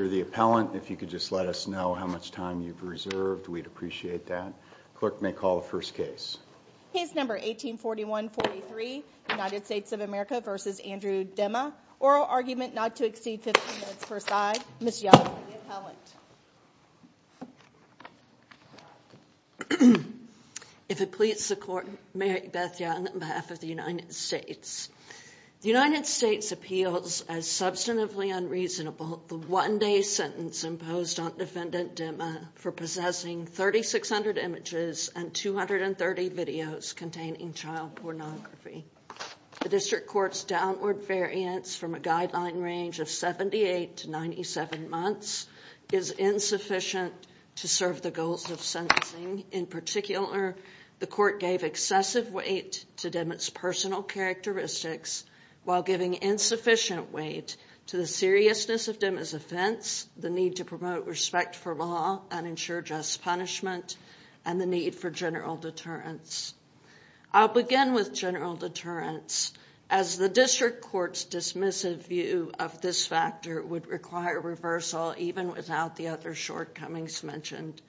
If you could just let us know how much time you've reserved, we'd appreciate that. United States of America v. Andrew Demma. If it please the Court, Mary Beth Young on behalf of the United States. The United States appeals as substantively unreasonable the one-day sentence imposed on Defendant Demma for possessing 3,600 images and 230 videos containing child pornography. The District Court's downward variance from a guideline range of 78 to 97 months is insufficient to serve the goals of sentencing. In particular, the Court gave excessive weight to Demma's personal characteristics while giving insufficient weight to the seriousness of Demma's offense, the need to promote respect for law and ensure just punishment, and the need for general deterrence. I'll begin with general deterrence, as the District Court's dismissive view of this factor would require reversal even without the other shortcomings mentioned.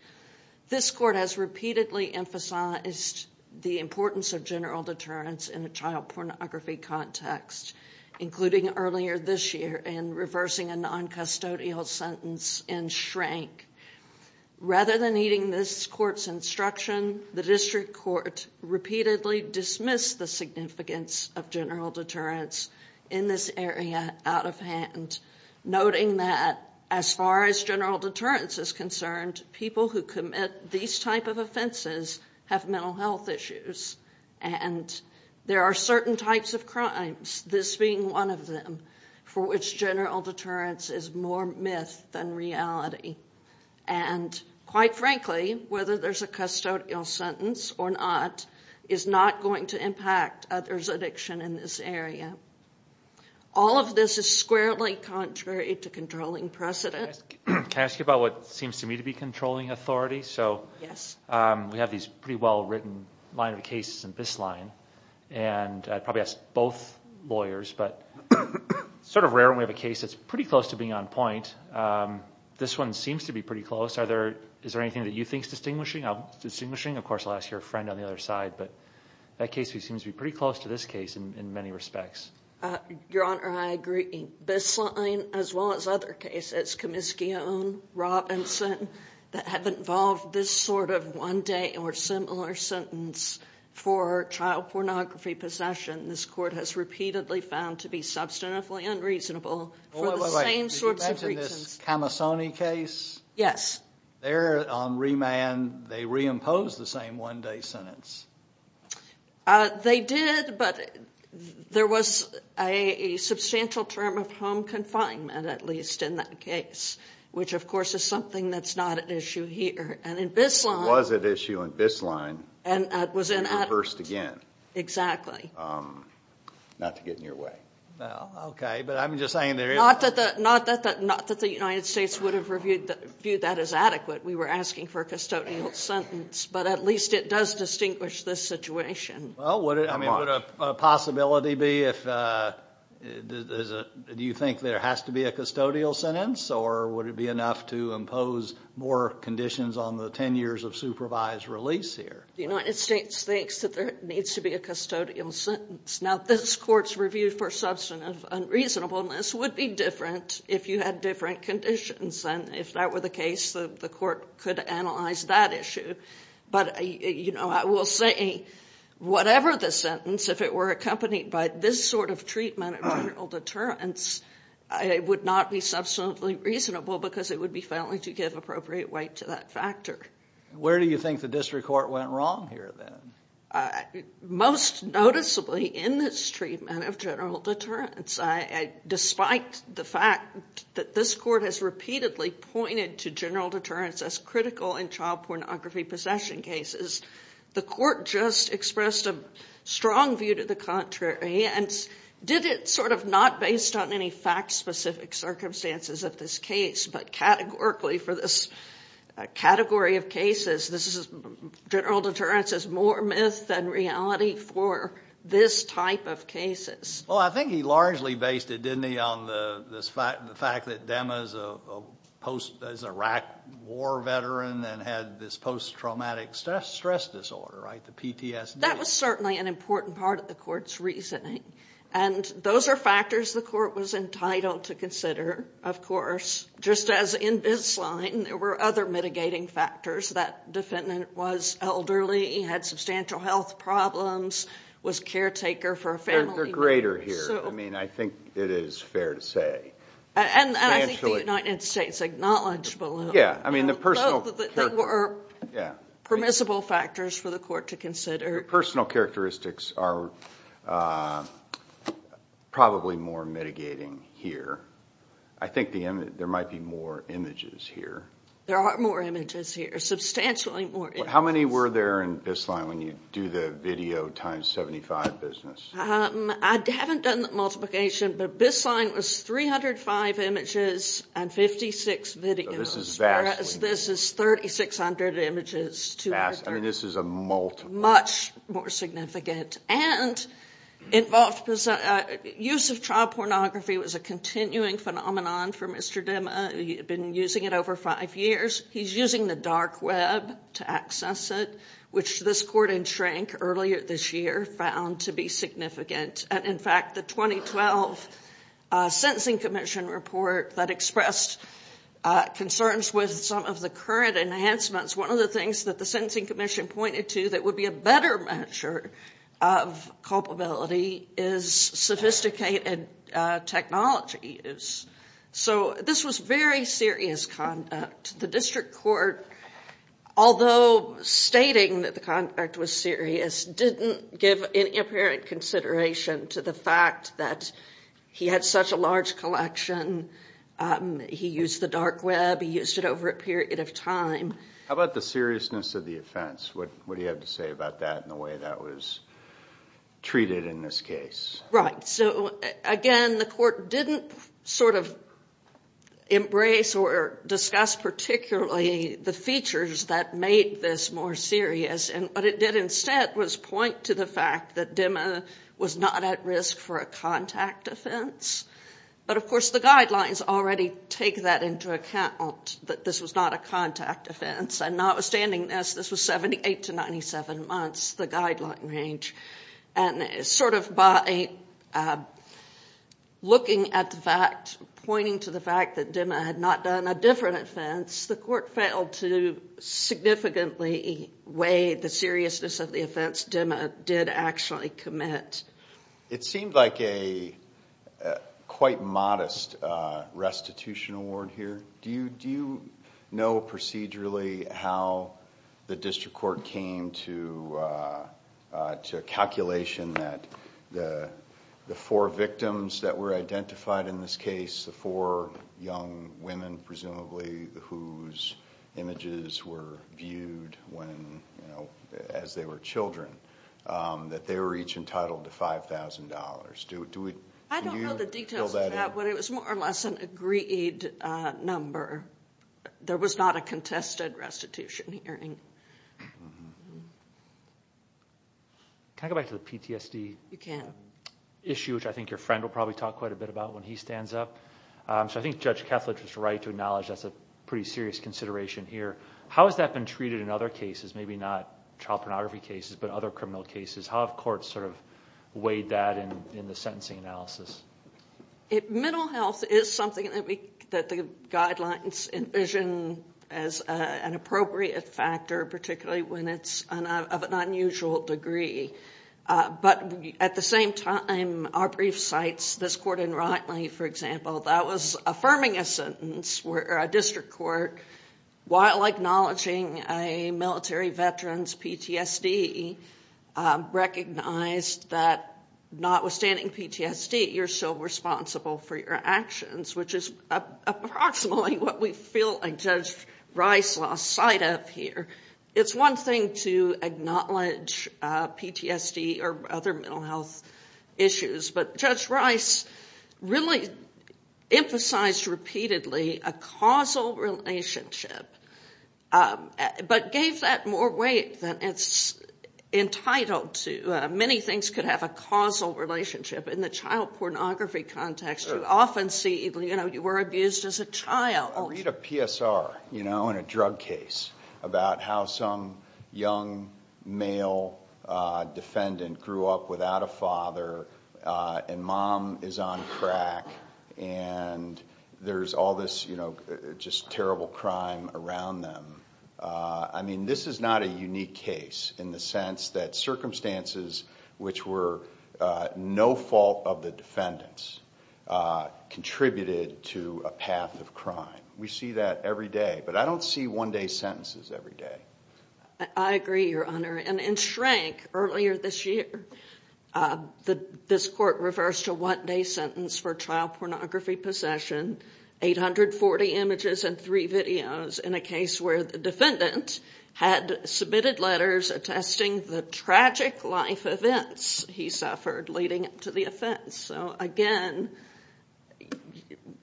This Court has repeatedly emphasized the importance of general deterrence in a child pornography context, including earlier this year in reversing a non-custodial sentence in Shrink. Rather than heeding this Court's instruction, the District Court repeatedly dismissed the significance of general deterrence in this area out of hand, noting that as far as general deterrence is concerned, people who commit these type of offenses have mental health issues, and there are certain types of crimes, this being one of them, for which general deterrence is more myth than reality. And quite frankly, whether there's a custodial sentence or not All of this is squarely contrary to controlling precedent. Can I ask you about what seems to me to be controlling authority? So we have these pretty well-written line of cases in this line, and I'd probably ask both lawyers, but it's sort of rare when we have a case that's pretty close to being on point. This one seems to be pretty close. Is there anything that you think is distinguishing? Of course, I'll ask your friend on the other side, but that case seems to be pretty close to this case in many respects. Your Honor, I agree. This line, as well as other cases, Comiscione, Robinson, that have involved this sort of one-day or similar sentence for child pornography possession, this Court has repeatedly found to be substantially unreasonable for the same sorts of reasons. Wait, wait, wait. Did you mention this Camassoni case? Yes. There, on remand, they reimposed the same one-day sentence. They did, but there was a substantial term of home confinement, at least in that case, which, of course, is something that's not at issue here. It was at issue in this line, but it was reversed again. Exactly. Not to get in your way. Okay, but I'm just saying there is... Not that the United States would have viewed that as adequate. We were asking for a custodial sentence, but at least it does distinguish this situation. Well, would a possibility be, do you think there has to be a custodial sentence, or would it be enough to impose more conditions on the 10 years of supervised release here? The United States thinks that there needs to be a custodial sentence. Now, this Court's review for substantive unreasonableness would be different if you had different conditions, and if that were the case, the Court could analyze that issue. But, you know, I will say whatever the sentence, if it were accompanied by this sort of treatment of general deterrence, it would not be substantively reasonable because it would be failing to give appropriate weight to that factor. Where do you think the district court went wrong here, then? Most noticeably in this treatment of general deterrence, despite the fact that this Court has repeatedly pointed to general deterrence as critical in child pornography possession cases, the Court just expressed a strong view to the contrary, and did it sort of not based on any fact-specific circumstances of this case, but categorically for this category of cases, this is general deterrence is more myth than reality for this type of cases. Well, I think he largely based it, didn't he, on the fact that Dema is a Iraq war veteran and had this post-traumatic stress disorder, right, the PTSD. That was certainly an important part of the Court's reasoning, and those are factors the Court was entitled to consider, of course, just as in this line there were other mitigating factors. That defendant was elderly, had substantial health problems, was a caretaker for a family. They're greater here. I mean, I think it is fair to say. And I think the United States acknowledged below. Yeah, I mean, the personal characteristics. They were permissible factors for the Court to consider. The personal characteristics are probably more mitigating here. I think there might be more images here. There are more images here, substantially more images. How many were there in this line when you do the video times 75 business? I haven't done the multiplication, but this line was 305 images and 56 videos, whereas this is 3,600 images. I mean, this is a multiple. Much more significant. And use of child pornography was a continuing phenomenon for Mr. Dema. He had been using it over five years. He's using the dark web to access it, which this Court enshrank earlier this year, found to be significant. And, in fact, the 2012 Sentencing Commission report that expressed concerns with some of the current enhancements, one of the things that the Sentencing Commission pointed to that would be a better measure of culpability is sophisticated technologies. So this was very serious conduct. The District Court, although stating that the conduct was serious, didn't give any apparent consideration to the fact that he had such a large collection. He used the dark web. He used it over a period of time. How about the seriousness of the offense? What do you have to say about that and the way that was treated in this case? Right. So, again, the Court didn't sort of embrace or discuss particularly the features that made this more serious. And what it did instead was point to the fact that Dema was not at risk for a contact offense. But, of course, the guidelines already take that into account, that this was not a contact offense. And notwithstanding this, this was 78 to 97 months, the guideline range. And sort of by looking at the fact, pointing to the fact that Dema had not done a different offense, the Court failed to significantly weigh the seriousness of the offense Dema did actually commit. It seemed like a quite modest restitution award here. Do you know procedurally how the District Court came to a calculation that the four victims that were identified in this case, the four young women presumably whose images were viewed as they were children, that they were each entitled to $5,000? I don't know the details of that. But it was more or less an agreed number. There was not a contested restitution hearing. Can I go back to the PTSD issue, which I think your friend will probably talk quite a bit about when he stands up? So I think Judge Kethledge was right to acknowledge that's a pretty serious consideration here. How has that been treated in other cases, maybe not child pornography cases, but other criminal cases? How have courts sort of weighed that in the sentencing analysis? Mental health is something that the guidelines envision as an appropriate factor, particularly when it's of an unusual degree. But at the same time, our brief sites, this court in Rotman, for example, that was affirming a sentence where a District Court, while acknowledging a military veteran's PTSD, recognized that notwithstanding PTSD, you're still responsible for your actions, which is approximately what we feel Judge Rice lost sight of here. It's one thing to acknowledge PTSD or other mental health issues, but Judge Rice really emphasized repeatedly a causal relationship, but gave that more weight than it's entitled to. Many things could have a causal relationship. In the child pornography context, you often see you were abused as a child. I read a PSR in a drug case about how some young male defendant grew up without a father, and mom is on crack, and there's all this just terrible crime around them. I mean, this is not a unique case in the sense that circumstances which were no fault of the defendants contributed to a path of crime. We see that every day, but I don't see one-day sentences every day. I agree, Your Honor. In Shrink, earlier this year, this court reversed a one-day sentence for child pornography possession, 840 images and three videos, in a case where the defendant had submitted letters attesting the tragic life events he suffered leading up to the offense. Again,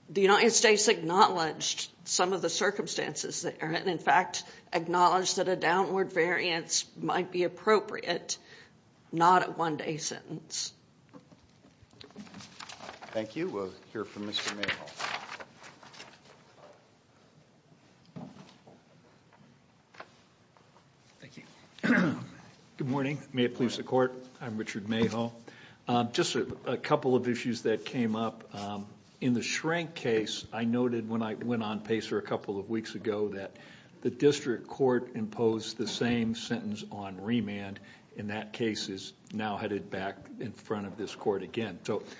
the United States acknowledged some of the circumstances there, and in fact acknowledged that a downward variance might be appropriate, not a one-day sentence. Thank you. We'll hear from Mr. Mayhol. Thank you. Good morning. May it please the Court, I'm Richard Mayhol. Just a couple of issues that came up. In the Shrink case, I noted when I went on PASER a couple of weeks ago that the district court imposed the same sentence on remand. In that case, it's now headed back in front of this court again.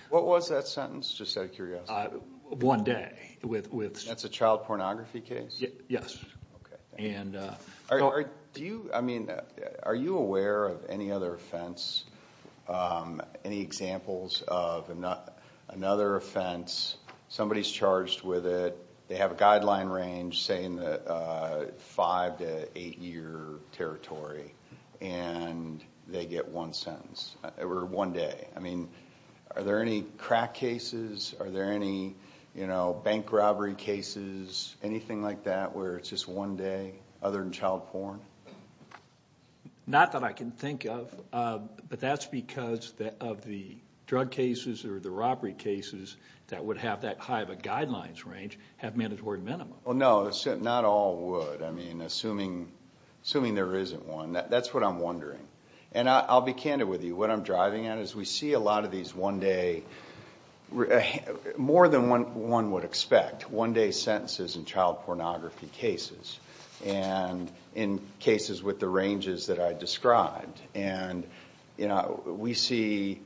What was that sentence, just out of curiosity? One day. That's a child pornography case? Yes. Are you aware of any other offense, any examples of another offense, somebody's charged with it, they have a guideline range, say in the five to eight-year territory, and they get one sentence, or one day. Are there any crack cases? Are there any bank robbery cases, anything like that, where it's just one day, other than child porn? Not that I can think of, but that's because of the drug cases or the robbery cases that would have that high of a guidelines range have mandatory minimum. No, not all would. Assuming there isn't one, that's what I'm wondering. I'll be candid with you. What I'm driving at is we see a lot of these one-day, more than one would expect, one-day sentences in child pornography cases, and in cases with the ranges that I described. We see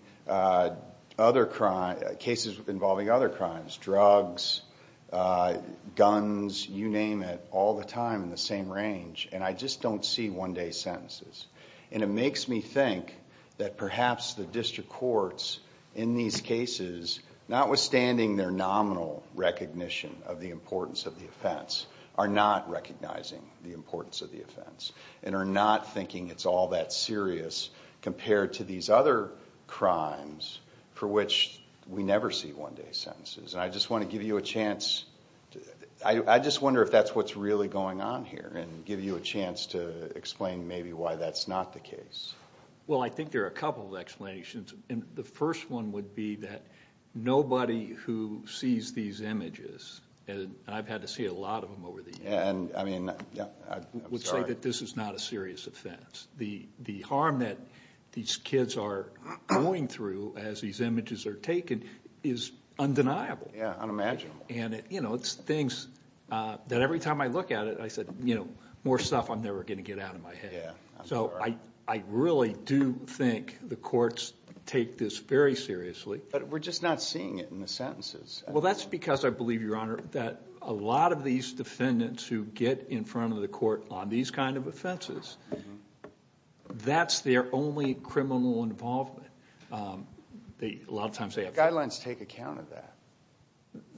cases involving other crimes, drugs, guns, you name it, all the time in the same range, and I just don't see one-day sentences. It makes me think that perhaps the district courts in these cases, notwithstanding their nominal recognition of the importance of the offense, are not recognizing the importance of the offense and are not thinking it's all that serious compared to these other crimes for which we never see one-day sentences. I just want to give you a chance. I just wonder if that's what's really going on here and give you a chance to explain maybe why that's not the case. Well, I think there are a couple of explanations. The first one would be that nobody who sees these images, and I've had to see a lot of them over the years, would say that this is not a serious offense. The harm that these kids are going through as these images are taken is undeniable. Yeah, unimaginable. And it's things that every time I look at it, I said, more stuff I'm never going to get out of my head. Yeah, I'm sorry. So I really do think the courts take this very seriously. But we're just not seeing it in the sentences. Well, that's because I believe, Your Honor, that a lot of these defendants who get in front of the court on these kind of offenses, that's their only criminal involvement. A lot of times they have to. The guidelines take account of that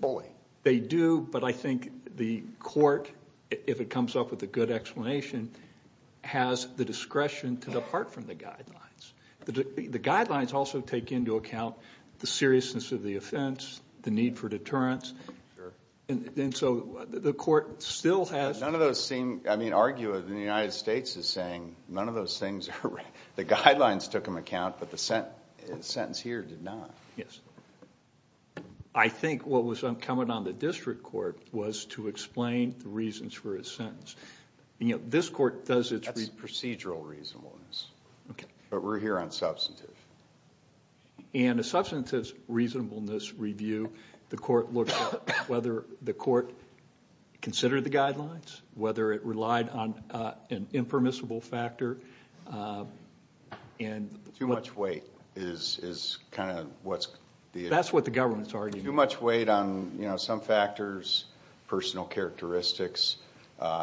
fully. They do, but I think the court, if it comes up with a good explanation, has the discretion to depart from the guidelines. The guidelines also take into account the seriousness of the offense, the need for deterrence. Sure. And so the court still has to. None of those seem, I mean, argue that the United States is saying none of those things are. The guidelines took them account, but the sentence here did not. Yes. I think what was coming on the district court was to explain the reasons for his sentence. You know, this court does its review. That's procedural reasonableness. Okay. But we're here on substantive. And a substantive reasonableness review, the court looked at whether the court considered the guidelines, whether it relied on an impermissible factor. Too much weight is kind of what's the issue. That's what the government's arguing. Too much weight on, you know, some factors, personal characteristics,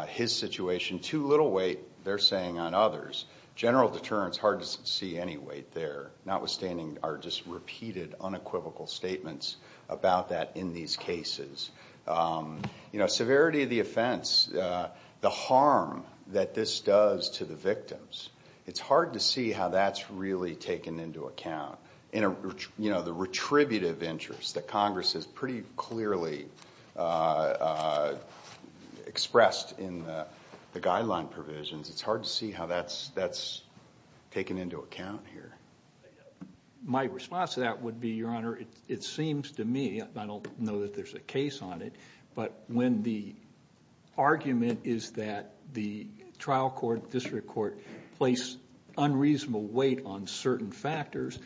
his situation. Too little weight, they're saying, on others. General deterrence, hard to see any weight there, notwithstanding our just repeated unequivocal statements about that in these cases. You know, severity of the offense, the harm that this does to the victims, it's hard to see how that's really taken into account. You know, the retributive interest that Congress has pretty clearly expressed in the guideline provisions, it's hard to see how that's taken into account here. My response to that would be, Your Honor, it seems to me, I don't know that there's a case on it, but when the argument is that the trial court, district court, place unreasonable weight on certain factors,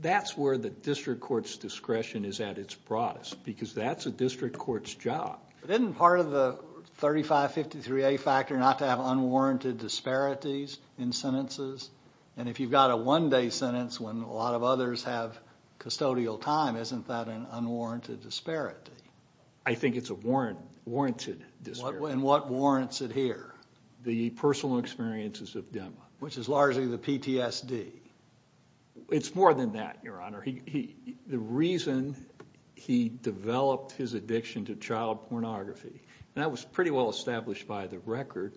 that's where the district court's discretion is at its broadest, because that's a district court's job. But isn't part of the 3553A factor not to have unwarranted disparities in sentences? And if you've got a one-day sentence when a lot of others have custodial time, isn't that an unwarranted disparity? I think it's a warranted disparity. And what warrants it here? The personal experiences of Dema. Which is largely the PTSD. It's more than that, Your Honor. The reason he developed his addiction to child pornography, and that was pretty well established by the record,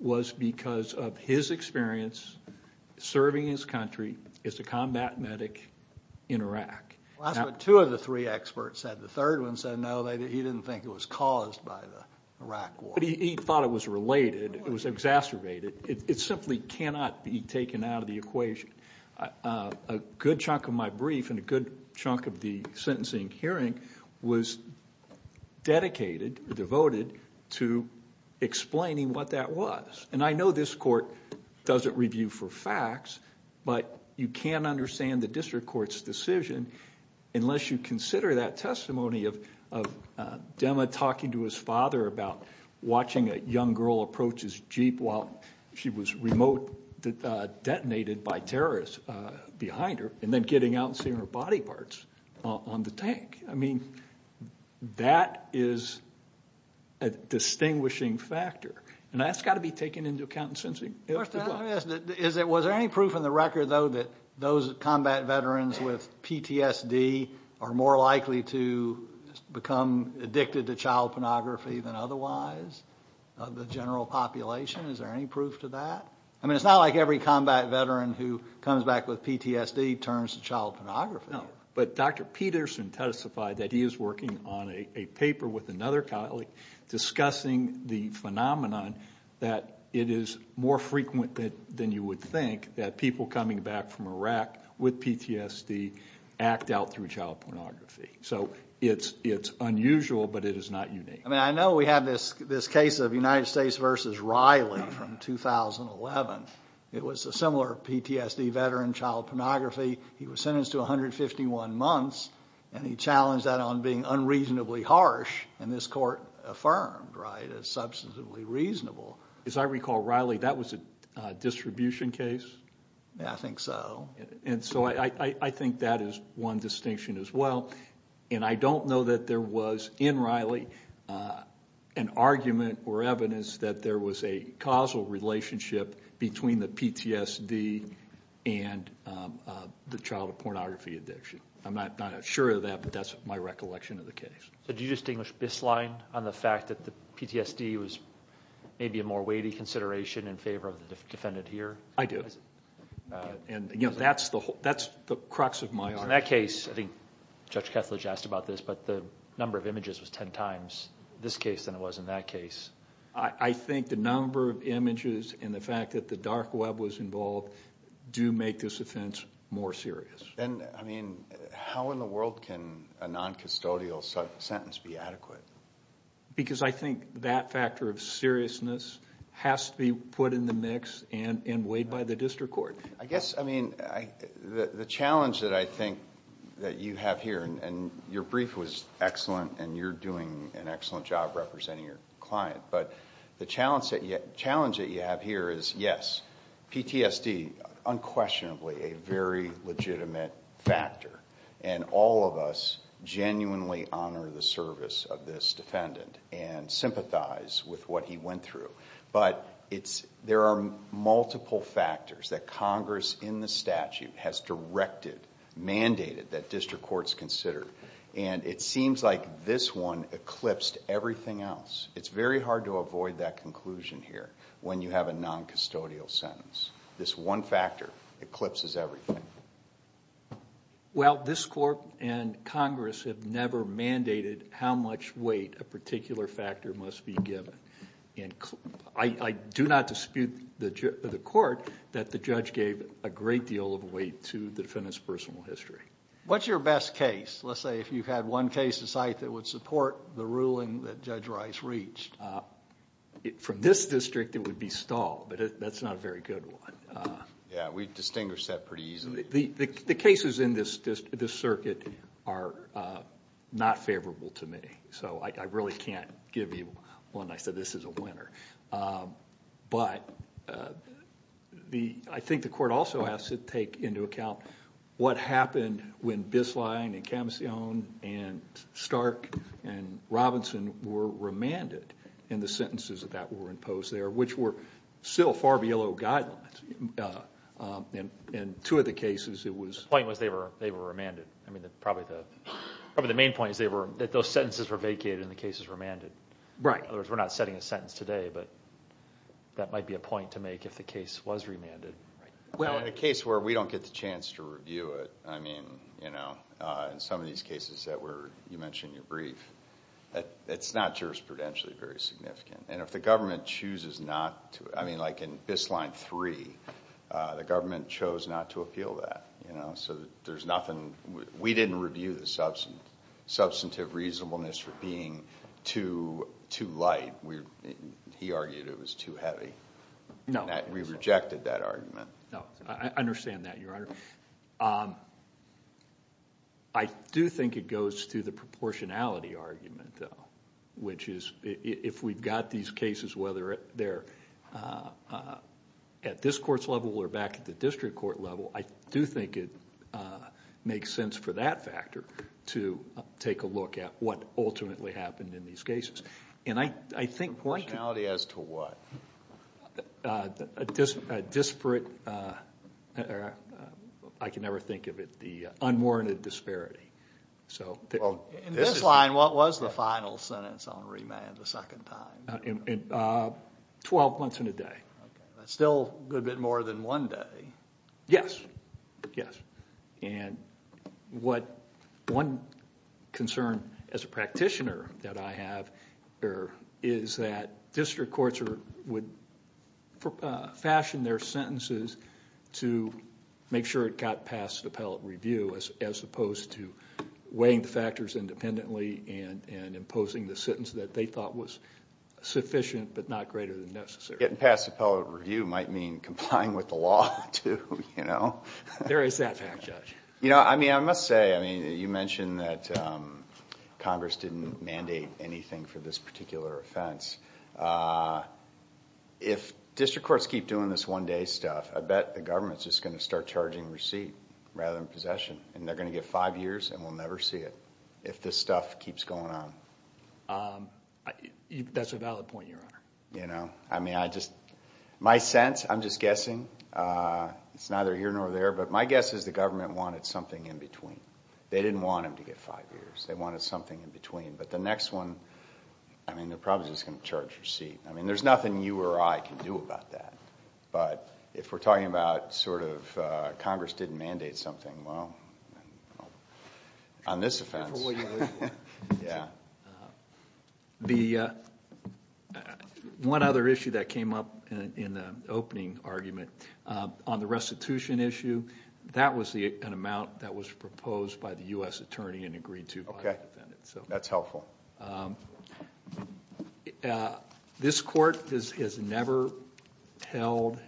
was because of his experience serving his country as a combat medic in Iraq. Well, that's what two of the three experts said. The third one said no, he didn't think it was caused by the Iraq war. But he thought it was related. It was exacerbated. It simply cannot be taken out of the equation. A good chunk of my brief and a good chunk of the sentencing hearing was dedicated, devoted, to explaining what that was. And I know this court doesn't review for facts, but you can't understand the district court's decision unless you consider that testimony of Dema talking to his father about watching a young girl approach his Jeep while she was remote detonated by terrorists behind her and then getting out and seeing her body parts on the tank. I mean, that is a distinguishing factor. And that's got to be taken into account in sentencing. Was there any proof in the record, though, that those combat veterans with PTSD are more likely to become addicted to child pornography than otherwise? Of the general population, is there any proof to that? I mean, it's not like every combat veteran who comes back with PTSD turns to child pornography. No, but Dr. Peterson testified that he is working on a paper with another colleague discussing the phenomenon that it is more frequent than you would think that people coming back from Iraq with PTSD act out through child pornography. So it's unusual, but it is not unique. I mean, I know we have this case of United States v. Riley from 2011. It was a similar PTSD veteran, child pornography. He was sentenced to 151 months, and he challenged that on being unreasonably harsh, and this court affirmed, right, it's substantively reasonable. As I recall, Riley, that was a distribution case? Yeah, I think so. And so I think that is one distinction as well. And I don't know that there was in Riley an argument or evidence that there was a causal relationship between the PTSD and the child pornography addiction. I'm not sure of that, but that's my recollection of the case. So do you distinguish this line on the fact that the PTSD was maybe a more weighty consideration in favor of the defendant here? I do, and, you know, that's the crux of my argument. In that case, I think Judge Kethledge asked about this, but the number of images was ten times this case than it was in that case. I think the number of images and the fact that the dark web was involved do make this offense more serious. And, I mean, how in the world can a noncustodial sentence be adequate? Because I think that factor of seriousness has to be put in the mix and weighed by the district court. I guess, I mean, the challenge that I think that you have here, and your brief was excellent, and you're doing an excellent job representing your client, but the challenge that you have here is, yes, PTSD, unquestionably a very legitimate factor, and all of us genuinely honor the service of this defendant and sympathize with what he went through. But there are multiple factors that Congress in the statute has directed, mandated that district courts consider, and it seems like this one eclipsed everything else. It's very hard to avoid that conclusion here when you have a noncustodial sentence. This one factor eclipses everything. Well, this court and Congress have never mandated how much weight a particular factor must be given. I do not dispute the court that the judge gave a great deal of weight to the defendant's personal history. What's your best case? Let's say if you had one case to cite that would support the ruling that Judge Rice reached. From this district, it would be Stahl, but that's not a very good one. Yeah, we distinguish that pretty easily. The cases in this circuit are not favorable to me, so I really can't give you one that I said, this is a winner. But I think the court also has to take into account what happened when Bisline and Camsione and Stark and Robinson were remanded and the sentences that were imposed there, which were still far below guidelines. In two of the cases, it was... The point was they were remanded. Probably the main point is that those sentences were vacated and the cases were remanded. In other words, we're not setting a sentence today, but that might be a point to make if the case was remanded. Well, in a case where we don't get the chance to review it, in some of these cases that you mentioned in your brief, it's not jurisprudentially very significant. And if the government chooses not to... I mean, like in Bisline 3, the government chose not to appeal that. So there's nothing... We didn't review the substantive reasonableness for being too light. He argued it was too heavy. We rejected that argument. I understand that, Your Honor. I do think it goes to the proportionality argument, though, which is if we've got these cases, whether they're at this court's level or back at the district court level, I do think it makes sense for that factor to take a look at what ultimately happened in these cases. Proportionality as to what? A disparate... I can never think of it, the unwarranted disparity. In this line, what was the final sentence on remand the second time? Twelve months and a day. Okay. That's still a good bit more than one day. Yes, yes. And one concern as a practitioner that I have is that district courts would fashion their sentences to make sure it got past appellate review as opposed to weighing the factors independently and imposing the sentence that they thought was sufficient but not greater than necessary. Getting past appellate review might mean complying with the law, too. There is that fact, Judge. I must say, you mentioned that Congress didn't mandate anything for this particular offense. If district courts keep doing this one-day stuff, I bet the government's just going to start charging receipt rather than possession, and they're going to get five years and we'll never see it if this stuff keeps going on. That's a valid point, Your Honor. My sense, I'm just guessing. It's neither here nor there, but my guess is the government wanted something in between. They didn't want them to get five years. They wanted something in between. But the next one, they're probably just going to charge receipt. There's nothing you or I can do about that. But if we're talking about Congress didn't mandate something, well, on this offense. Yeah. The one other issue that came up in the opening argument, on the restitution issue, that was an amount that was proposed by the U.S. attorney and agreed to by the defendant. That's helpful. This court has never held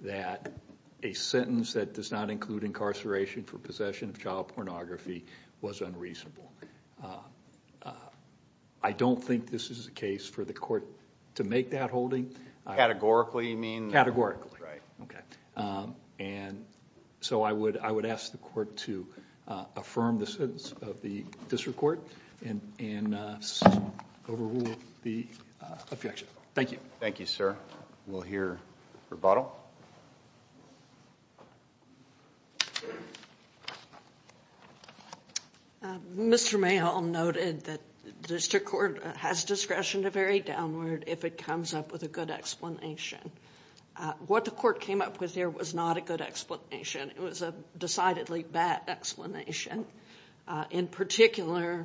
that a sentence that does not include incarceration for possession of child pornography was unreasonable. I don't think this is a case for the court to make that holding. Categorically, you mean? Categorically. Right. Okay. And so I would ask the court to affirm the sentence of the district court and overrule the objection. Thank you. Thank you, sir. We'll hear rebuttal. Mr. Mayholm noted that district court has discretion to vary downward if it comes up with a good explanation. What the court came up with here was not a good explanation. It was a decidedly bad explanation. In particular,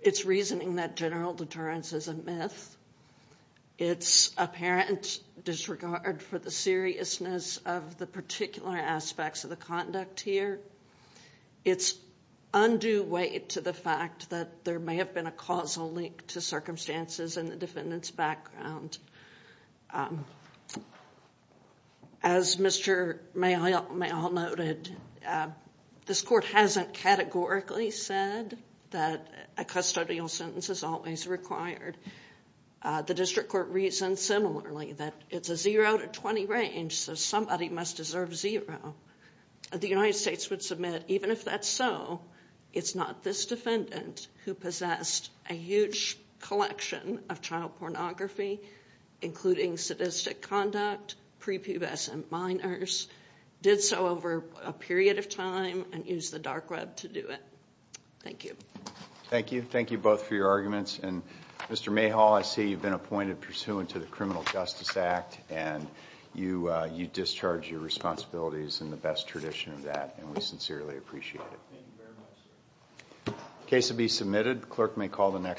it's reasoning that general deterrence is a myth. It's apparent disregard for the seriousness of the particular aspects of the conduct here. It's undue weight to the fact that there may have been a causal link to circumstances in the defendant's background. As Mr. Mayholm noted, this court hasn't categorically said that a custodial sentence is always required. The district court reasons similarly that it's a zero to 20 range, so somebody must deserve zero. The United States would submit, even if that's so, it's not this defendant who possessed a huge collection of child pornography including sadistic conduct, prepubescent minors, did so over a period of time, and used the dark web to do it. Thank you. Thank you. Thank you both for your arguments. Mr. Mayholm, I see you've been appointed pursuant to the Criminal Justice Act, and you discharge your responsibilities in the best tradition of that, and we sincerely appreciate it. Thank you very much, sir.